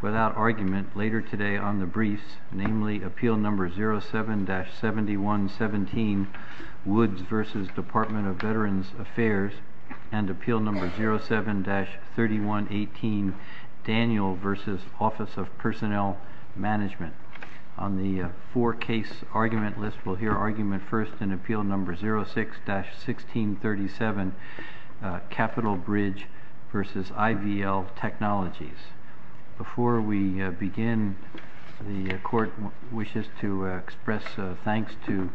Without argument, later today on the briefs, namely, Appeal No. 07-7117, Woods v. Department of Veterans Affairs, and Appeal No. 07-3118, Daniel v. Office of Personnel Management. On the four-case argument list, we'll hear argument first in Appeal No. 06-1637, Capitol Bridge v. IVL Technologies. Before we begin, the Court wishes to express thanks to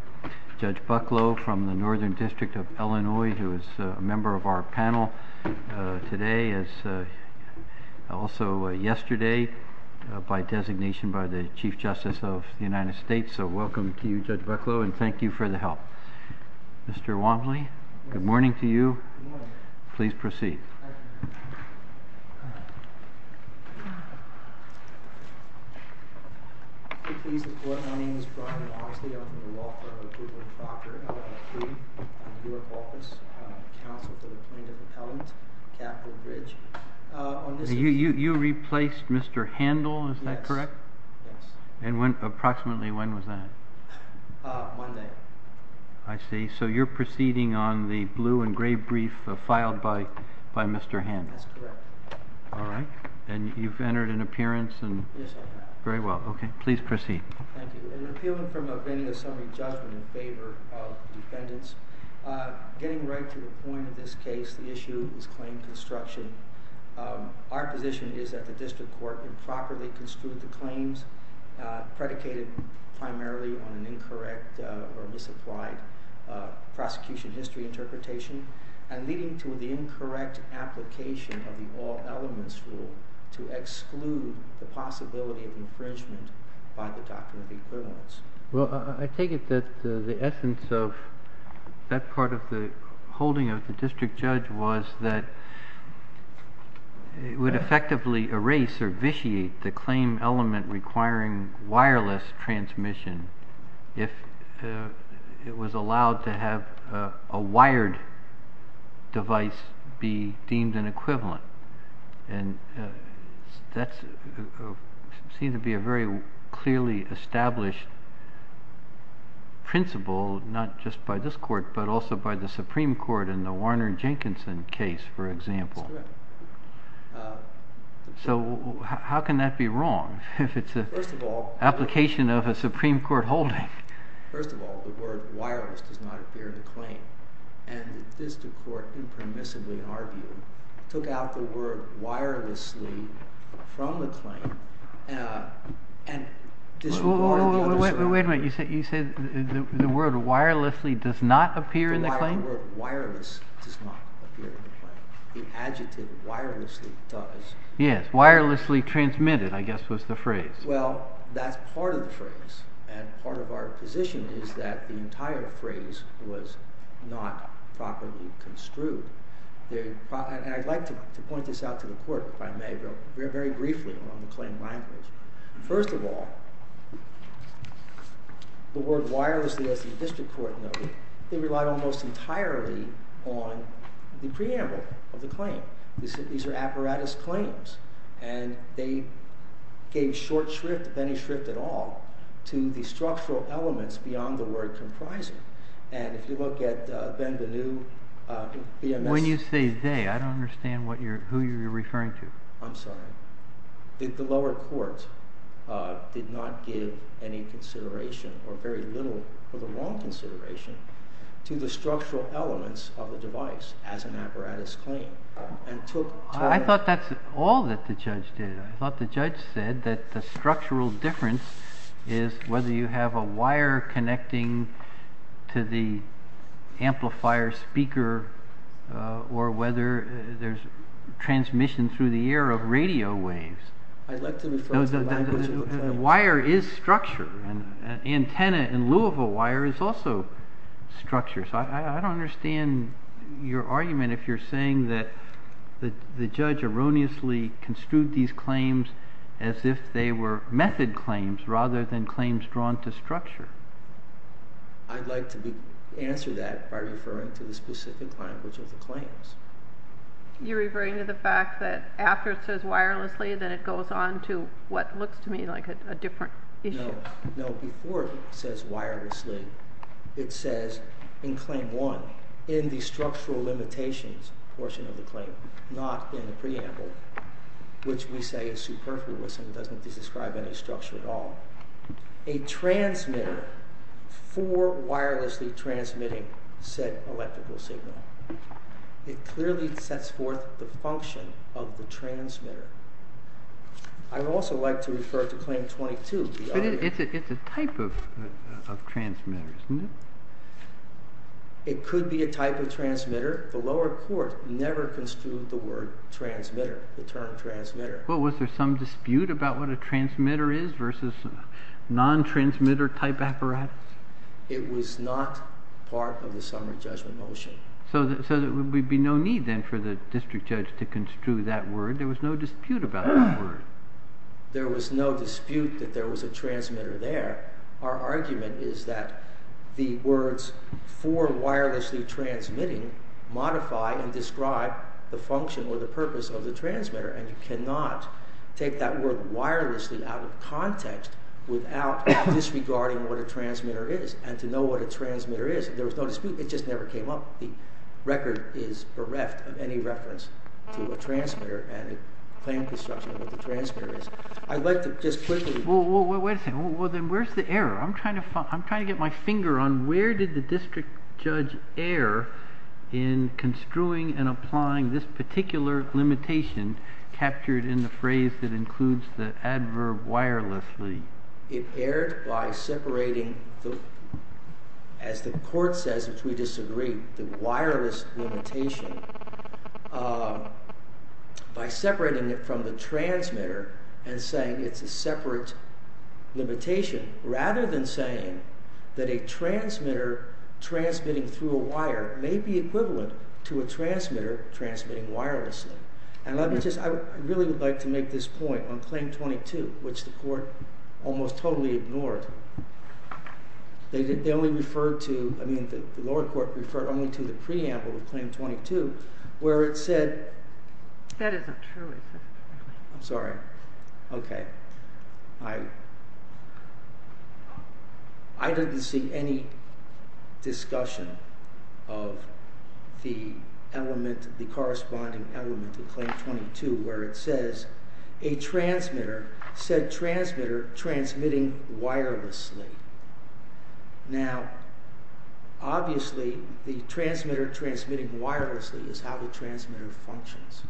Judge Bucklow from the Northern District of Illinois, who is a member of our panel today, as also yesterday, by designation by the Chief Justice of the United States. So welcome to you, Judge Bucklow, and thank you for the help. Mr. Womley, good morning to you. Good morning. Please proceed. My name is Brian Longstreet, I'm the law firm of the Brooklyn Proctor LLC. I'm your office counsel for the plaintiff appellant, Capitol Bridge. You replaced Mr. Handel, is that correct? Yes. And approximately when was that? Monday. I see. So you're proceeding on the blue and gray brief filed by Mr. Handel? That's correct. All right. And you've entered an appearance? Yes, I have. Very well. Okay. Please proceed. Thank you. An appeal from a vending of summary judgment in favor of defendants. Getting right to the point of this case, the issue is claim construction. Our position is that the district court improperly construed the claims predicated primarily on an incorrect or misapplied prosecution history interpretation, and leading to the incorrect application of the all elements rule to exclude the possibility of infringement by the doctrine of equivalence. Well, I take it that the essence of that part of the holding of the district judge was that it would effectively erase or vitiate the claim element requiring wireless transmission if it was allowed to have a wired device be deemed an equivalent. And that seemed to be a very clearly established principle, not just by this court, but also by the Supreme Court in the Warner-Jenkinson case, for example. That's correct. So how can that be wrong if it's an application of a Supreme Court holding? First of all, the word wireless does not appear in the claim. And the district court impermissibly, in our view, took out the word wirelessly from the claim. Wait a minute. You said the word wirelessly does not appear in the claim? The word wireless does not appear in the claim. The adjective wirelessly does. Yes, wirelessly transmitted, I guess was the phrase. Well, that's part of the phrase. And part of our position is that the entire phrase was not properly construed. And I'd like to point this out to the court, if I may, very briefly on the claim language. First of all, the word wirelessly, as the district court noted, they relied almost entirely on the preamble of the claim. These are apparatus claims. And they gave short shrift, if any shrift at all, to the structural elements beyond the word comprising. And if you look at Benvenu, BMS. When you say they, I don't understand who you're referring to. I'm sorry. The lower courts did not give any consideration or very little or the wrong consideration to the structural elements of the device as an apparatus claim. I thought that's all that the judge did. I thought the judge said that the structural difference is whether you have a wire connecting to the amplifier speaker or whether there's transmission through the air of radio waves. I'd like to know the wire is structure and antenna in lieu of a wire is also structure. So I don't understand your argument if you're saying that the judge erroneously construed these claims as if they were method claims rather than claims drawn to structure. I'd like to answer that by referring to the specific language of the claims. You're referring to the fact that after it says wirelessly, then it goes on to what looks to me like a different issue. No, before it says wirelessly, it says in claim one in the structural limitations portion of the claim, not in the preamble, which we say is superfluous and doesn't describe any structure at all. A transmitter for wirelessly transmitting said electrical signal. It clearly sets forth the function of the transmitter. I would also like to refer to claim 22. It's a type of transmitter, isn't it? It could be a type of transmitter. The lower court never construed the word transmitter, the term transmitter. Well, was there some dispute about what a transmitter is versus non-transmitter type apparatus? It was not part of the summary judgment motion. So there would be no need then for the district judge to construe that word. There was no dispute about that word. There was no dispute that there was a transmitter there. Our argument is that the words for wirelessly transmitting modify and describe the function or the purpose of the transmitter. And you cannot take that word wirelessly out of context without disregarding what a transmitter is. And to know what a transmitter is, there was no dispute. It just never came up. The record is bereft of any reference to a transmitter and a claim construction of what a transmitter is. I'd like to just quickly— Well, wait a second. Well, then where's the error? I'm trying to get my finger on where did the district judge err in construing and applying this particular limitation captured in the phrase that includes the adverb wirelessly? It erred by separating, as the court says, which we disagree, the wireless limitation by separating it from the transmitter and saying it's a separate limitation, rather than saying that a transmitter transmitting through a wire may be equivalent to a transmitter transmitting wirelessly. And let me just—I really would like to make this point on Claim 22, which the court almost totally ignored. They only referred to—I mean, the lower court referred only to the preamble of Claim 22, where it said— That isn't true, is it? I'm sorry. Okay. I didn't see any discussion of the element, the corresponding element of Claim 22, where it says a transmitter, said transmitter transmitting wirelessly. Now, obviously, the transmitter transmitting wirelessly is how the transmitter functions.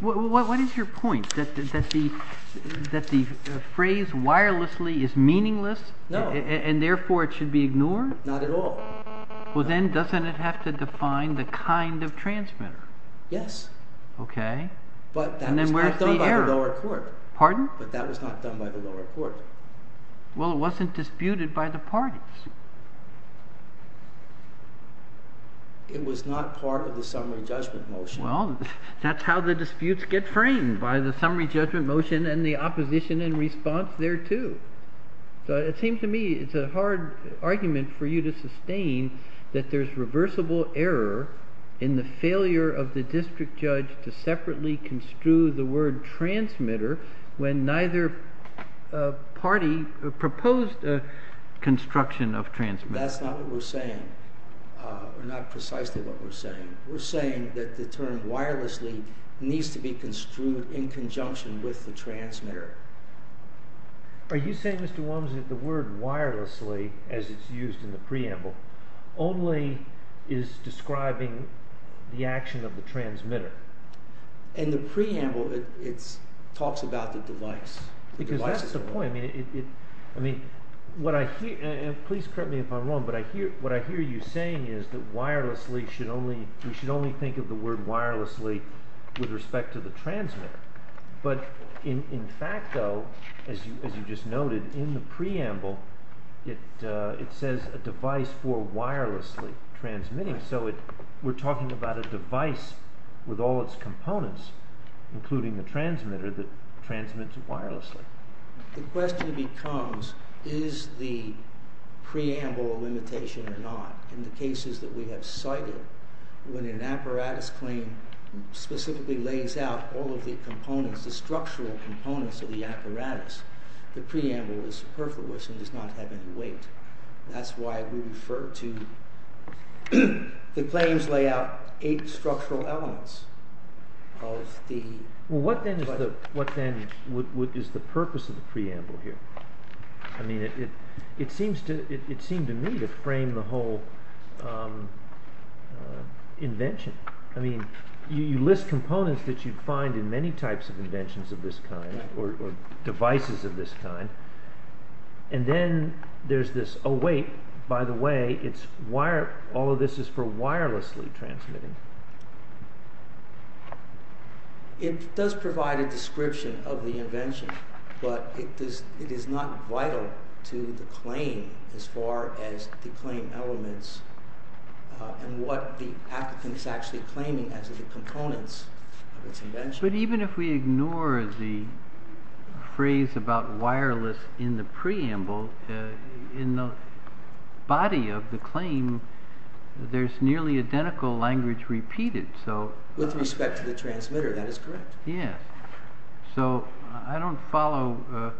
What is your point? That the phrase wirelessly is meaningless? No. And therefore it should be ignored? Not at all. Well, then doesn't it have to define the kind of transmitter? Yes. Okay. But that was not done by the lower court. Pardon? But that was not done by the lower court. Well, it wasn't disputed by the parties. It was not part of the summary judgment motion. Well, that's how the disputes get framed, by the summary judgment motion and the opposition in response thereto. So it seems to me it's a hard argument for you to sustain that there's reversible error in the failure of the district judge to separately construe the word transmitter when neither party proposed construction of transmitter. That's not what we're saying, or not precisely what we're saying. We're saying that the term wirelessly needs to be construed in conjunction with the transmitter. Are you saying, Mr. Walmsley, that the word wirelessly, as it's used in the preamble, only is describing the action of the transmitter? In the preamble, it talks about the device. Because that's the point. Please correct me if I'm wrong, but what I hear you saying is that we should only think of the word wirelessly with respect to the transmitter. But in fact, though, as you just noted, in the preamble, it says a device for wirelessly transmitting. So we're talking about a device with all its components, including the transmitter, that transmits wirelessly. The question becomes, is the preamble a limitation or not? In the cases that we have cited, when an apparatus claim specifically lays out all of the components, the structural components of the apparatus, the preamble is superfluous and does not have any weight. That's why we refer to the claims lay out eight structural elements. What then is the purpose of the preamble here? It seemed to me to frame the whole invention. You list components that you'd find in many types of inventions of this kind, or devices of this kind. And then there's this, oh wait, by the way, all of this is for wirelessly transmitting. It does provide a description of the invention, but it is not vital to the claim as far as the claim elements and what the applicant is actually claiming as the components of its invention. But even if we ignore the phrase about wireless in the preamble, in the body of the claim, there's nearly identical language repeated. With respect to the transmitter, that is correct. So I don't follow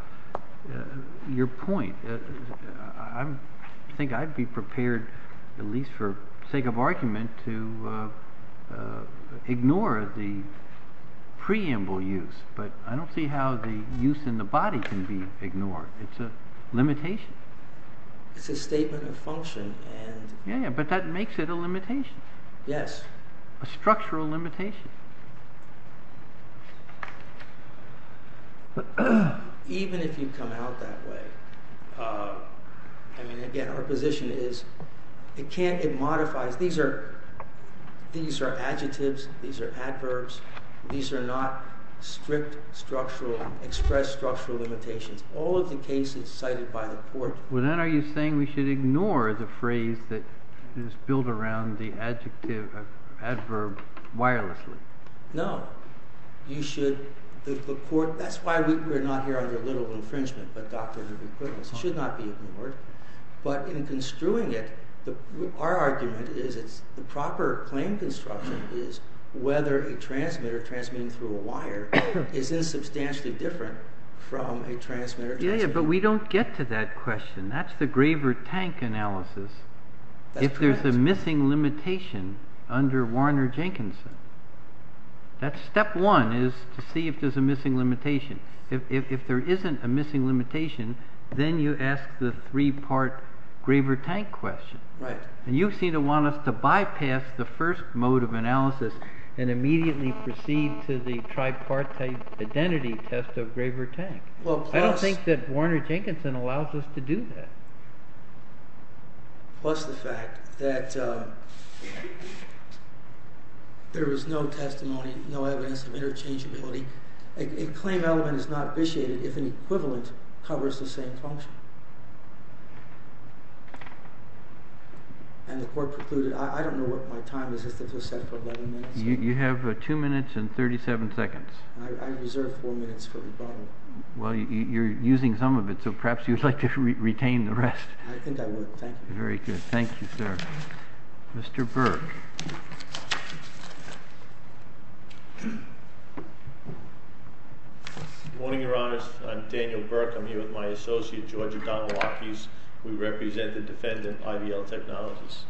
your point. I think I'd be prepared, at least for sake of argument, to ignore the preamble use. But I don't see how the use in the body can be ignored. It's a limitation. It's a statement of function. Yeah, but that makes it a limitation. Yes. A structural limitation. Even if you come out that way, I mean, again, our position is, it can't, it modifies, these are adjectives, these are adverbs, these are not strict structural, expressed structural limitations. All of the cases cited by the court. Well, then are you saying we should ignore the phrase that is built around the adjective, adverb, wirelessly? No. You should, the court, that's why we're not here under little infringement, but doctrine of equivalence should not be ignored. But in construing it, our argument is it's the proper claim construction is whether a transmitter transmitting through a wire is insubstantially different from a transmitter transmitting. Yeah, but we don't get to that question. That's the Graver-Tank analysis. That's correct. If there's a missing limitation under Warner-Jenkinson, that's step one, is to see if there's a missing limitation. If there isn't a missing limitation, then you ask the three-part Graver-Tank question. Right. And you seem to want us to bypass the first mode of analysis and immediately proceed to the tripartite identity test of Graver-Tank. I don't think that Warner-Jenkinson allows us to do that. Plus the fact that there is no testimony, no evidence of interchangeability. A claim element is not vitiated if an equivalent covers the same function. And the court precluded, I don't know what my time is. Is this set for 11 minutes? You have two minutes and 37 seconds. I reserve four minutes for rebuttal. Well, you're using some of it, so perhaps you'd like to retain the rest. I think I would. Thank you. Very good. Thank you, sir. Mr. Burke. Good morning, Your Honors. I'm Daniel Burke. I'm here with my associate, Georgia Donwalkies. We represent the defendant, IVL Technologies.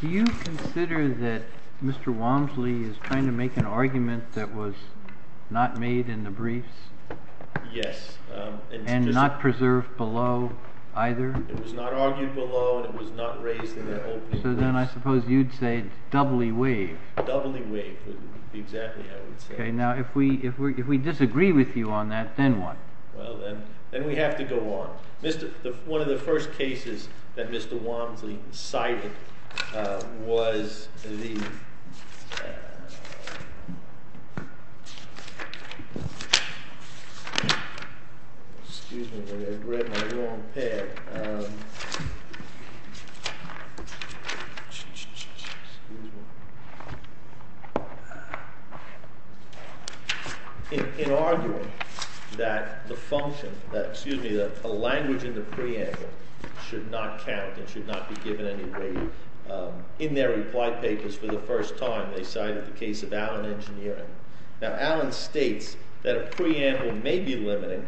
Do you consider that Mr. Walmsley is trying to make an argument that was not made in the briefs? Yes. And not preserved below either? It was not argued below, and it was not raised in the open. So then I suppose you'd say doubly waived. Doubly waived would be exactly how I would say it. Okay. Now, if we disagree with you on that, then what? Well, then we have to go on. One of the first cases that Mr. Walmsley cited was the— Excuse me. I read my long pad. Excuse me. In arguing that the function—excuse me, that a language in the preamble should not count and should not be given any weight, in their reply papers for the first time, they cited the case of Allen Engineering. Now, Allen states that a preamble may be limited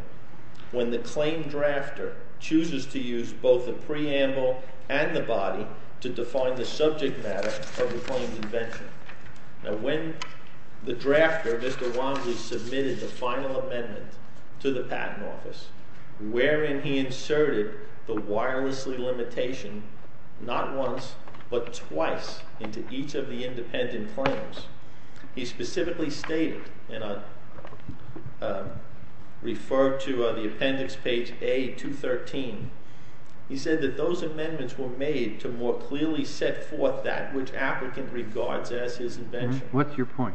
when the claim drafter chooses to use both the preamble and the body to define the subject matter of the claim's invention. Now, when the drafter, Mr. Walmsley, submitted the final amendment to the Patent Office, wherein he inserted the wirelessly limitation not once but twice into each of the independent claims, he specifically stated, and I'll refer to the appendix page A213, he said that those amendments were made to more clearly set forth that which applicant regards as his invention. What's your point?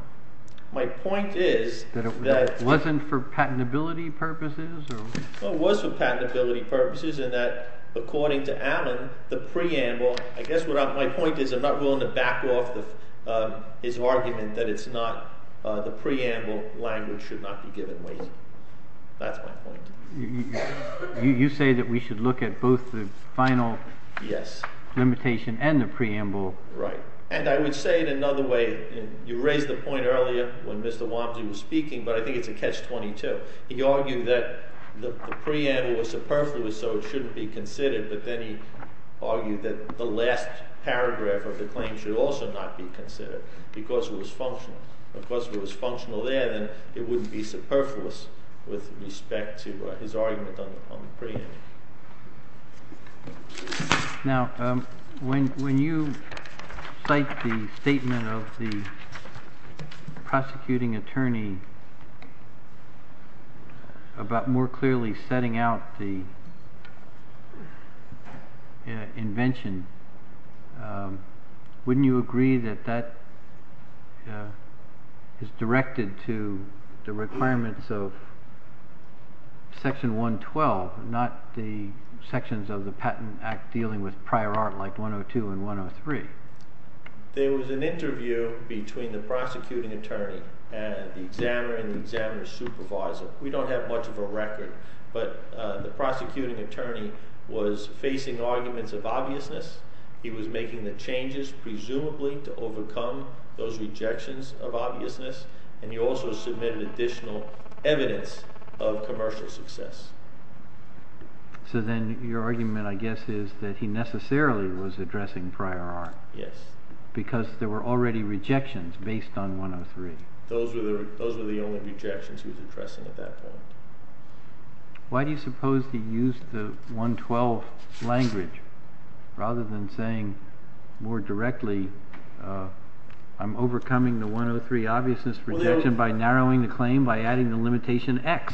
My point is that— That it wasn't for patentability purposes or— Well, it was for patentability purposes in that, according to Allen, the preamble— The preamble language should not be given weight. That's my point. You say that we should look at both the final limitation and the preamble. Right. And I would say it another way. You raised the point earlier when Mr. Walmsley was speaking, but I think it's a catch-22. He argued that the preamble was superfluous, so it shouldn't be considered, but then he argued that the last paragraph of the claim should also not be considered because it was functional. Because it was functional there, then it wouldn't be superfluous with respect to his argument on the preamble. Now, when you cite the statement of the prosecuting attorney about more clearly setting out the invention, wouldn't you agree that that is directed to the requirements of Section 112, not the sections of the Patent Act dealing with prior art like 102 and 103? There was an interview between the prosecuting attorney and the examiner and the examiner's supervisor. We don't have much of a record, but the prosecuting attorney was facing arguments of obviousness. He was making the changes presumably to overcome those rejections of obviousness, and he also submitted additional evidence of commercial success. So then your argument, I guess, is that he necessarily was addressing prior art. Yes. Because there were already rejections based on 103. Those were the only rejections he was addressing at that point. Why do you suppose he used the 112 language rather than saying more directly, I'm overcoming the 103 obviousness rejection by narrowing the claim by adding the limitation X?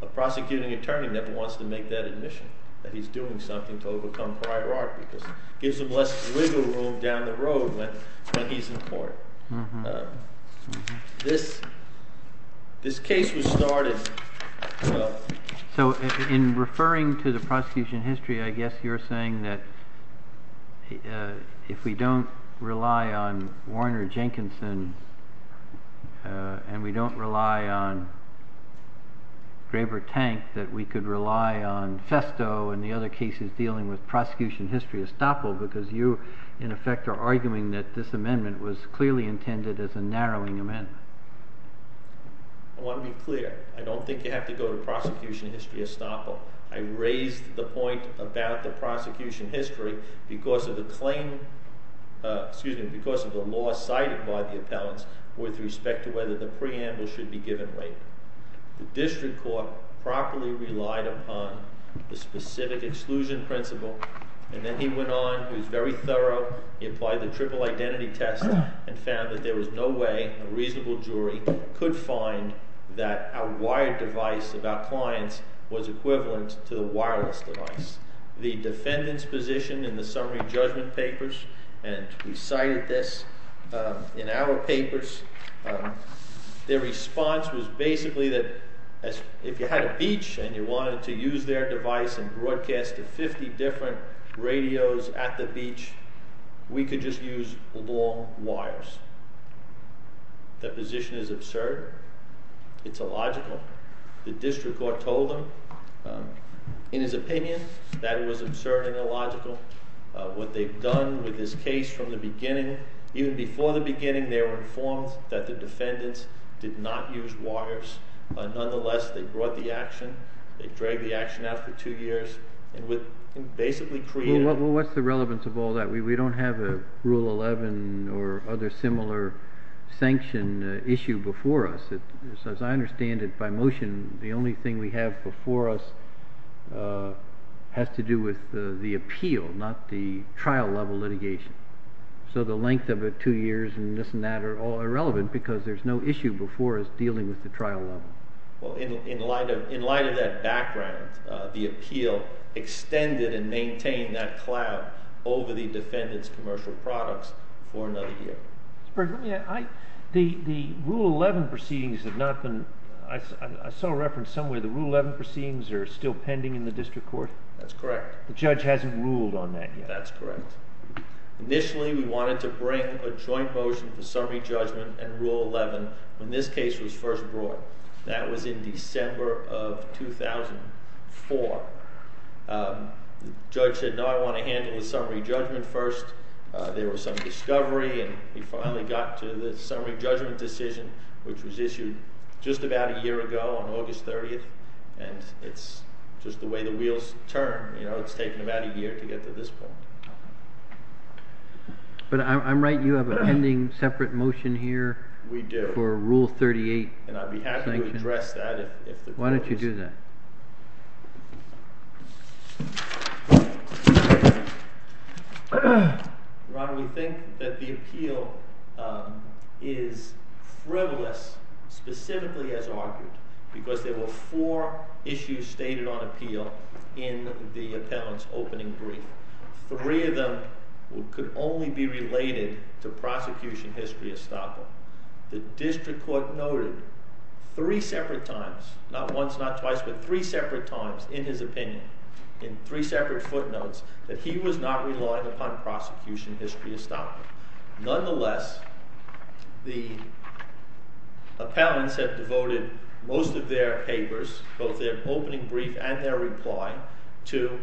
A prosecuting attorney never wants to make that admission that he's doing something to overcome prior art because it gives him less wiggle room down the road when he's in court. This case was started. So in referring to the prosecution history, I guess you're saying that if we don't rely on Warner Jenkinson and we don't rely on Graber Tank, that we could rely on Festo and the other cases dealing with prosecution history estoppel because you, in effect, are arguing that this amendment was clearly intended as a narrowing amendment. I want to be clear. I don't think you have to go to prosecution history estoppel. I raised the point about the prosecution history because of the claim, excuse me, because of the law cited by the appellants with respect to whether the preamble should be given later. The district court properly relied upon the specific exclusion principle. And then he went on. He was very thorough. He applied the triple identity test and found that there was no way a reasonable jury could find that a wired device of our clients was equivalent to the wireless device. The defendant's position in the summary judgment papers, and we cited this in our papers, their response was basically that if you had a beach and you wanted to use their device and broadcast to 50 different radios at the beach, we could just use long wires. That position is absurd. It's illogical. The district court told him in his opinion that it was absurd and illogical. What they've done with this case from the beginning, even before the beginning, they were informed that the defendants did not use wires. Nonetheless, they brought the action. They dragged the action out for two years and basically created a Well, what's the relevance of all that? We don't have a Rule 11 or other similar sanction issue before us. As I understand it, by motion, the only thing we have before us has to do with the appeal, not the trial level litigation. So the length of it, two years and this and that, are all irrelevant because there's no issue before us dealing with the trial level. Well, in light of that background, the appeal extended and maintained that clout over the defendant's commercial products for another year. The Rule 11 proceedings have not been, I saw a reference somewhere, the Rule 11 proceedings are still pending in the district court? That's correct. The judge hasn't ruled on that yet? That's correct. Initially, we wanted to bring a joint motion for summary judgment and Rule 11 when this case was first brought. That was in December of 2004. The judge said, no, I want to handle the summary judgment first. There was some discovery and we finally got to the summary judgment decision, which was issued just about a year ago on August 30th. And it's just the way the wheels turn, you know, it's taken about a year to get to this point. But I'm right, you have a pending separate motion here? We do. For Rule 38. And I'd be happy to address that if the court is. Why don't you do that? Ron, we think that the appeal is frivolous, specifically as argued, because there were four issues stated on appeal in the appellant's opening brief. Three of them could only be related to prosecution history estoppel. The district court noted three separate times, not once, not twice, but three separate times in his opinion, in three separate footnotes, that he was not relying upon prosecution history estoppel. Nonetheless, the appellants have devoted most of their papers, both their opening brief and their reply, to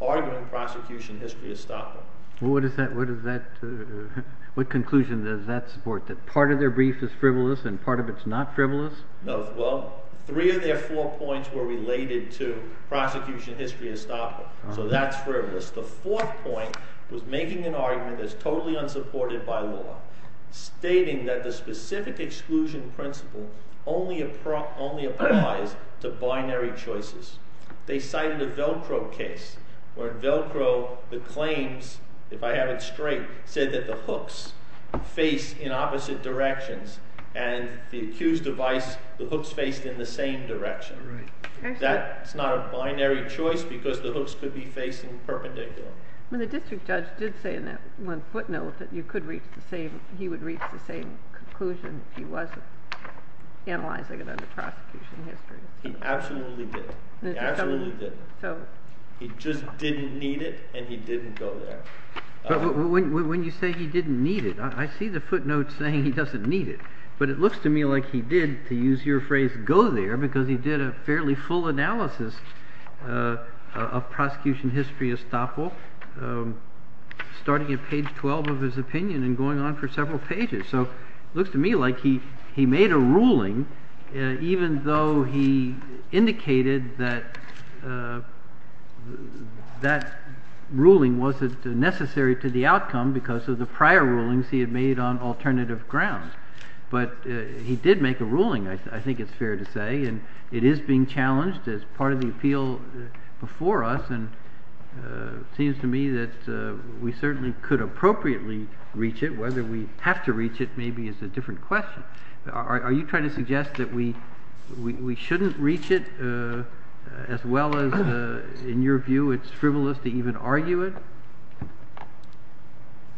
arguing prosecution history estoppel. What conclusion does that support, that part of their brief is frivolous and part of it's not frivolous? Well, three of their four points were related to prosecution history estoppel. So that's frivolous. The fourth point was making an argument that's totally unsupported by law, stating that the specific exclusion principle only applies to binary choices. They cited a Velcro case where Velcro, the claims, if I have it straight, said that the hooks face in opposite directions and the accused device, the hooks faced in the same direction. That's not a binary choice because the hooks could be facing perpendicular. The district judge did say in that one footnote that you could reach the same, he would reach the same conclusion if he wasn't analyzing it under prosecution history. He absolutely did. He absolutely did. He just didn't need it and he didn't go there. But when you say he didn't need it, I see the footnote saying he doesn't need it. But it looks to me like he did, to use your phrase, go there because he did a fairly full analysis of prosecution history estoppel, starting at page 12 of his opinion and going on for several pages. So it looks to me like he made a ruling, even though he indicated that that ruling wasn't necessary to the outcome because of the prior rulings he had made on alternative grounds. But he did make a ruling, I think it's fair to say, and it is being challenged as part of the appeal before us. And it seems to me that we certainly could appropriately reach it. Whether we have to reach it maybe is a different question. Are you trying to suggest that we shouldn't reach it as well as, in your view, it's frivolous to even argue it?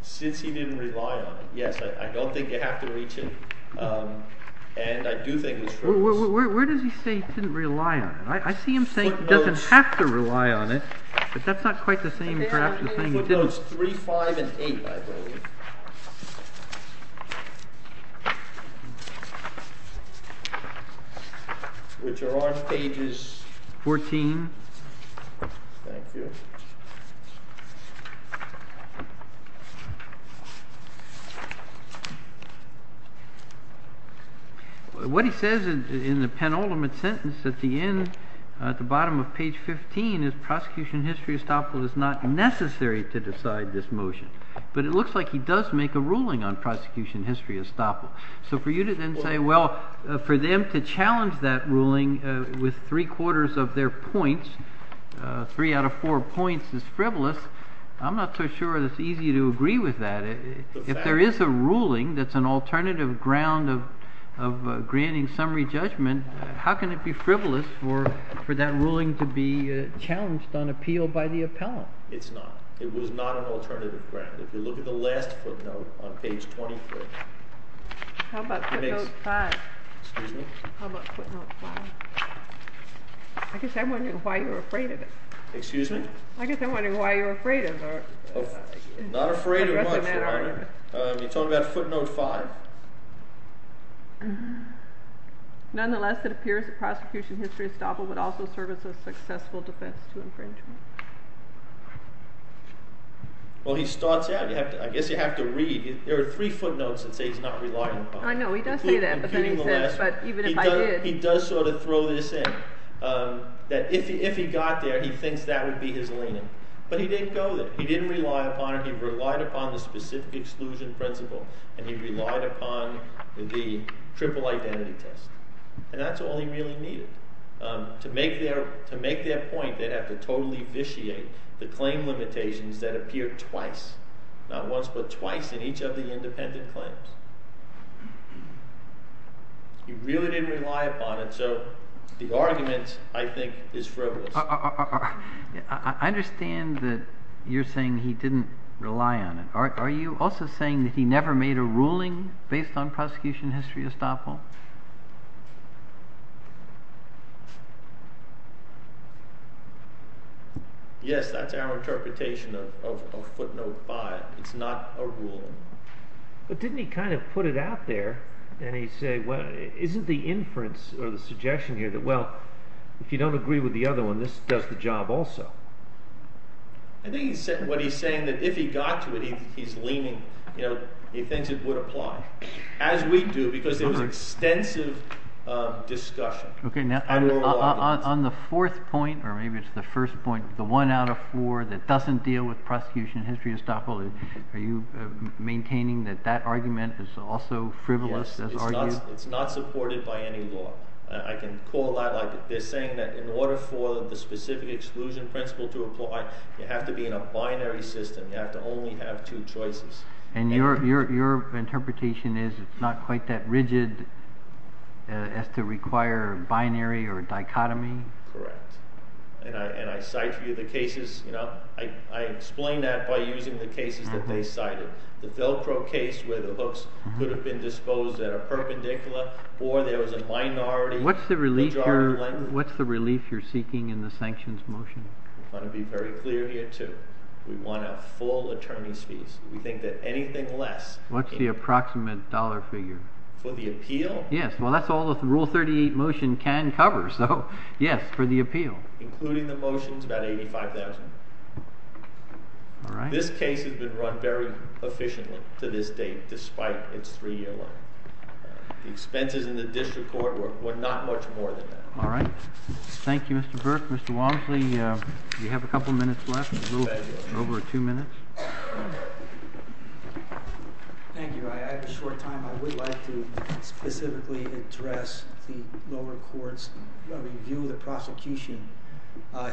Since he didn't rely on it. Yes, I don't think you have to reach it. And I do think it's frivolous. Where does he say he didn't rely on it? I see him saying he doesn't have to rely on it. But that's not quite the same draft as saying he didn't. Apparently in footnotes 3, 5, and 8, I believe, which are on pages 14. Thank you. What he says in the penultimate sentence at the end, at the bottom of page 15, is prosecution history estoppel is not necessary to decide this motion. But it looks like he does make a ruling on prosecution history estoppel. So for you to then say, well, for them to challenge that ruling with three quarters of their points, three out of four points is frivolous, I'm not so sure it's easy to agree with that. If there is a ruling that's an alternative ground of granting summary judgment, how can it be frivolous for that ruling to be challenged on appeal by the appellant? It's not. It was not an alternative ground. If you look at the last footnote on page 23. How about footnote 5? Excuse me? How about footnote 5? I guess I'm wondering why you're afraid of it. Excuse me? I guess I'm wondering why you're afraid of it. Not afraid of much, Your Honor. You're talking about footnote 5. Nonetheless, it appears that prosecution history estoppel would also serve as a successful defense to infringement. Well, he starts out. I guess you have to read. There are three footnotes that say he's not reliant upon it. I know. He does say that. He does sort of throw this in, that if he got there, he thinks that would be his leaning. But he didn't go there. He didn't rely upon it. He relied upon the specific exclusion principle, and he relied upon the triple identity test. And that's all he really needed. To make their point, they'd have to totally vitiate the claim limitations that appear twice, not once but twice, in each of the independent claims. He really didn't rely upon it, so the argument, I think, is frivolous. I understand that you're saying he didn't rely on it. Are you also saying that he never made a ruling based on prosecution history estoppel? Yes, that's our interpretation of footnote 5. It's not a ruling. But didn't he kind of put it out there, and he said, well, isn't the inference or the suggestion here that, well, if you don't agree with the other one, this does the job also? I think what he's saying is that if he got to it, he's leaning. He thinks it would apply. As we do, because there was extensive discussion. Okay. On the fourth point, or maybe it's the first point, the one out of four that doesn't deal with prosecution history estoppel, are you maintaining that that argument is also frivolous as argued? Yes. It's not supported by any law. I can call that like they're saying that in order for the specific exclusion principle to apply, you have to be in a binary system. You have to only have two choices. And your interpretation is it's not quite that rigid as to require binary or dichotomy? Correct. And I cite you the cases. I explain that by using the cases that they cited. The Velcro case where the hooks could have been disposed at a perpendicular or there was a minority. What's the relief you're seeking in the sanctions motion? I want to be very clear here, too. We want a full attorney's fees. We think that anything less. What's the approximate dollar figure? For the appeal? Yes. Well, that's all the rule 38 motion can cover. So, yes, for the appeal. Including the motions, about $85,000. All right. This case has been run very efficiently to this date despite its three-year life. The expenses in the district court were not much more than that. All right. Thank you, Mr. Burke. Mr. Walmsley, you have a couple minutes left. Over two minutes. Thank you. I have a short time. I would like to specifically address the lower court's review of the prosecution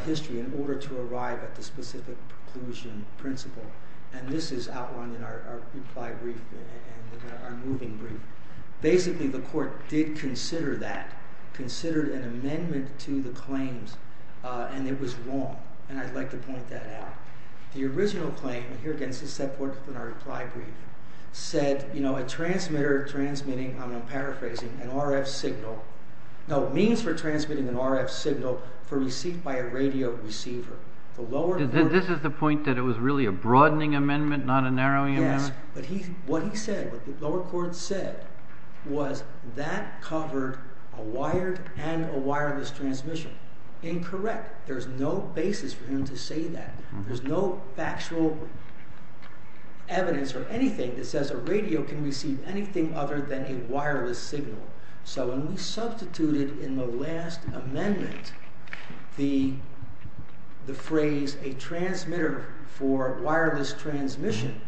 history in order to arrive at the specific conclusion principle. And this is outlined in our reply brief and our moving brief. Basically, the court did consider that, considered an amendment to the claims, and it was wrong. And I'd like to point that out. The original claim, and here again, this is set forth in our reply brief, said, you know, a transmitter transmitting, I'm paraphrasing, an RF signal. No, means for transmitting an RF signal for receipt by a radio receiver. The lower court. This is the point that it was really a broadening amendment, not a narrowing amendment? Yes. But what he said, what the lower court said, was that covered a wired and a wireless transmission. Incorrect. There's no basis for him to say that. There's no factual evidence or anything that says a radio can receive anything other than a wireless signal. So when we substituted in the last amendment the phrase, a transmitter for wireless transmission,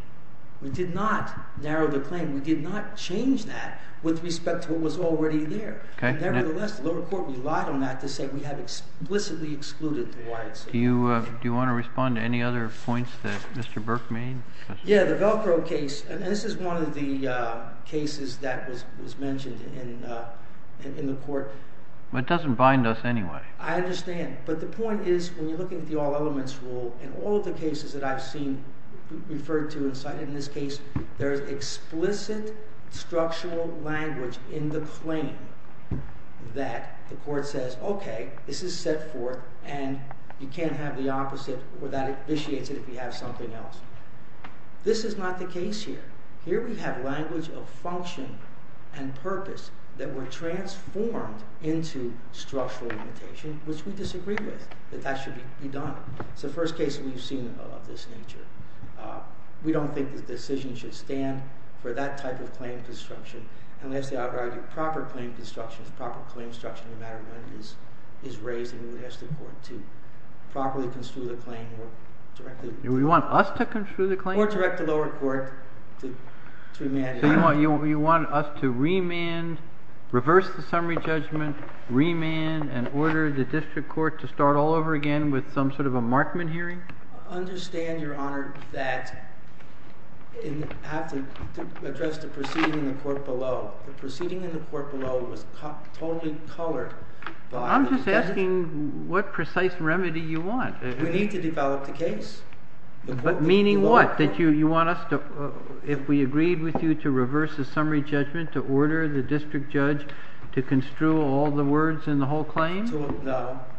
we did not narrow the claim. We did not change that with respect to what was already there. Nevertheless, the lower court relied on that to say we have explicitly excluded the wired signal. Do you want to respond to any other points that Mr. Burke made? Yeah, the Velcro case, and this is one of the cases that was mentioned in the court. But it doesn't bind us anyway. I understand. But the point is, when you're looking at the all elements rule, in all of the cases that I've seen referred to and cited in this case, there's explicit structural language in the claim that the court says, okay, this is set forth and you can't have the opposite or that it vitiates it if you have something else. This is not the case here. Here we have language of function and purpose that were transformed into structural limitation, which we disagree with, that that should be done. It's the first case we've seen of this nature. We don't think the decision should stand for that type of claim construction. And lastly, I would argue proper claim construction, no matter when it is, is raised, and we would ask the court to properly construe the claim or directly. Do you want us to construe the claim? Or direct the lower court to remand it. So you want us to remand, reverse the summary judgment, remand, and order the district court to start all over again with some sort of a markman hearing? I understand, Your Honor, that I have to address the proceeding in the court below. The proceeding in the court below was totally colored by the decision. I'm just asking what precise remedy you want. We need to develop the case. Meaning what? That you want us to, if we agreed with you to reverse the summary judgment, to order the district judge to construe all the words in the whole claim?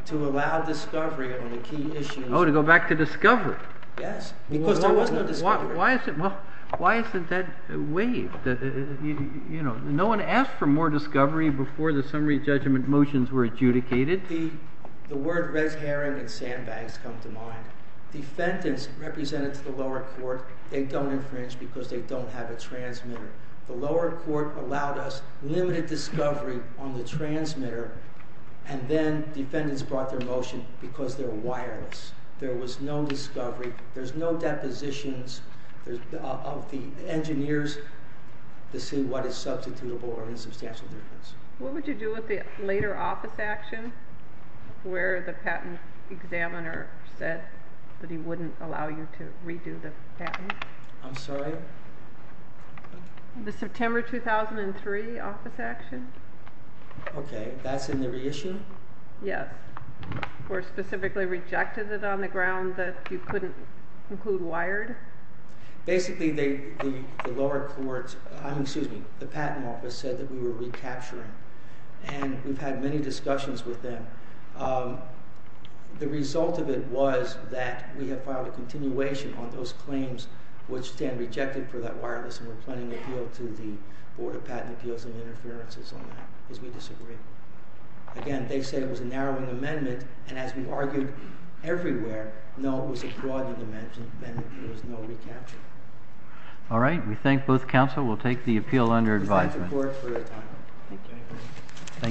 To allow discovery of the key issues. Oh, to go back to discovery. Yes, because there was no discovery. Why isn't that waived? No one asked for more discovery before the summary judgment motions were adjudicated? The word red herring and sandbags come to mind. Defendants represented to the lower court, they don't infringe because they don't have a transmitter. The lower court allowed us limited discovery on the transmitter, and then defendants brought their motion because they're wireless. There was no discovery. There's no depositions of the engineers to see what is substitutable or in substantial difference. What would you do with the later office action where the patent examiner said that he wouldn't allow you to redo the patent? I'm sorry? The September 2003 office action? Okay, that's in the reissue? Yes. Where specifically rejected it on the ground that you couldn't include wired? Basically, the lower court, excuse me, the patent office said that we were recapturing, and we've had many discussions with them. The result of it was that we have filed a continuation on those claims which stand rejected for that wireless, and we're planning to appeal to the Board of Patent Appeals and Interferences on that because we disagree. Again, they say it was a narrowing amendment, and as we've argued everywhere, no, it was a broadened amendment, and there was no recapture. All right, we thank both counsel. We'll take the appeal under advisement. Thank you.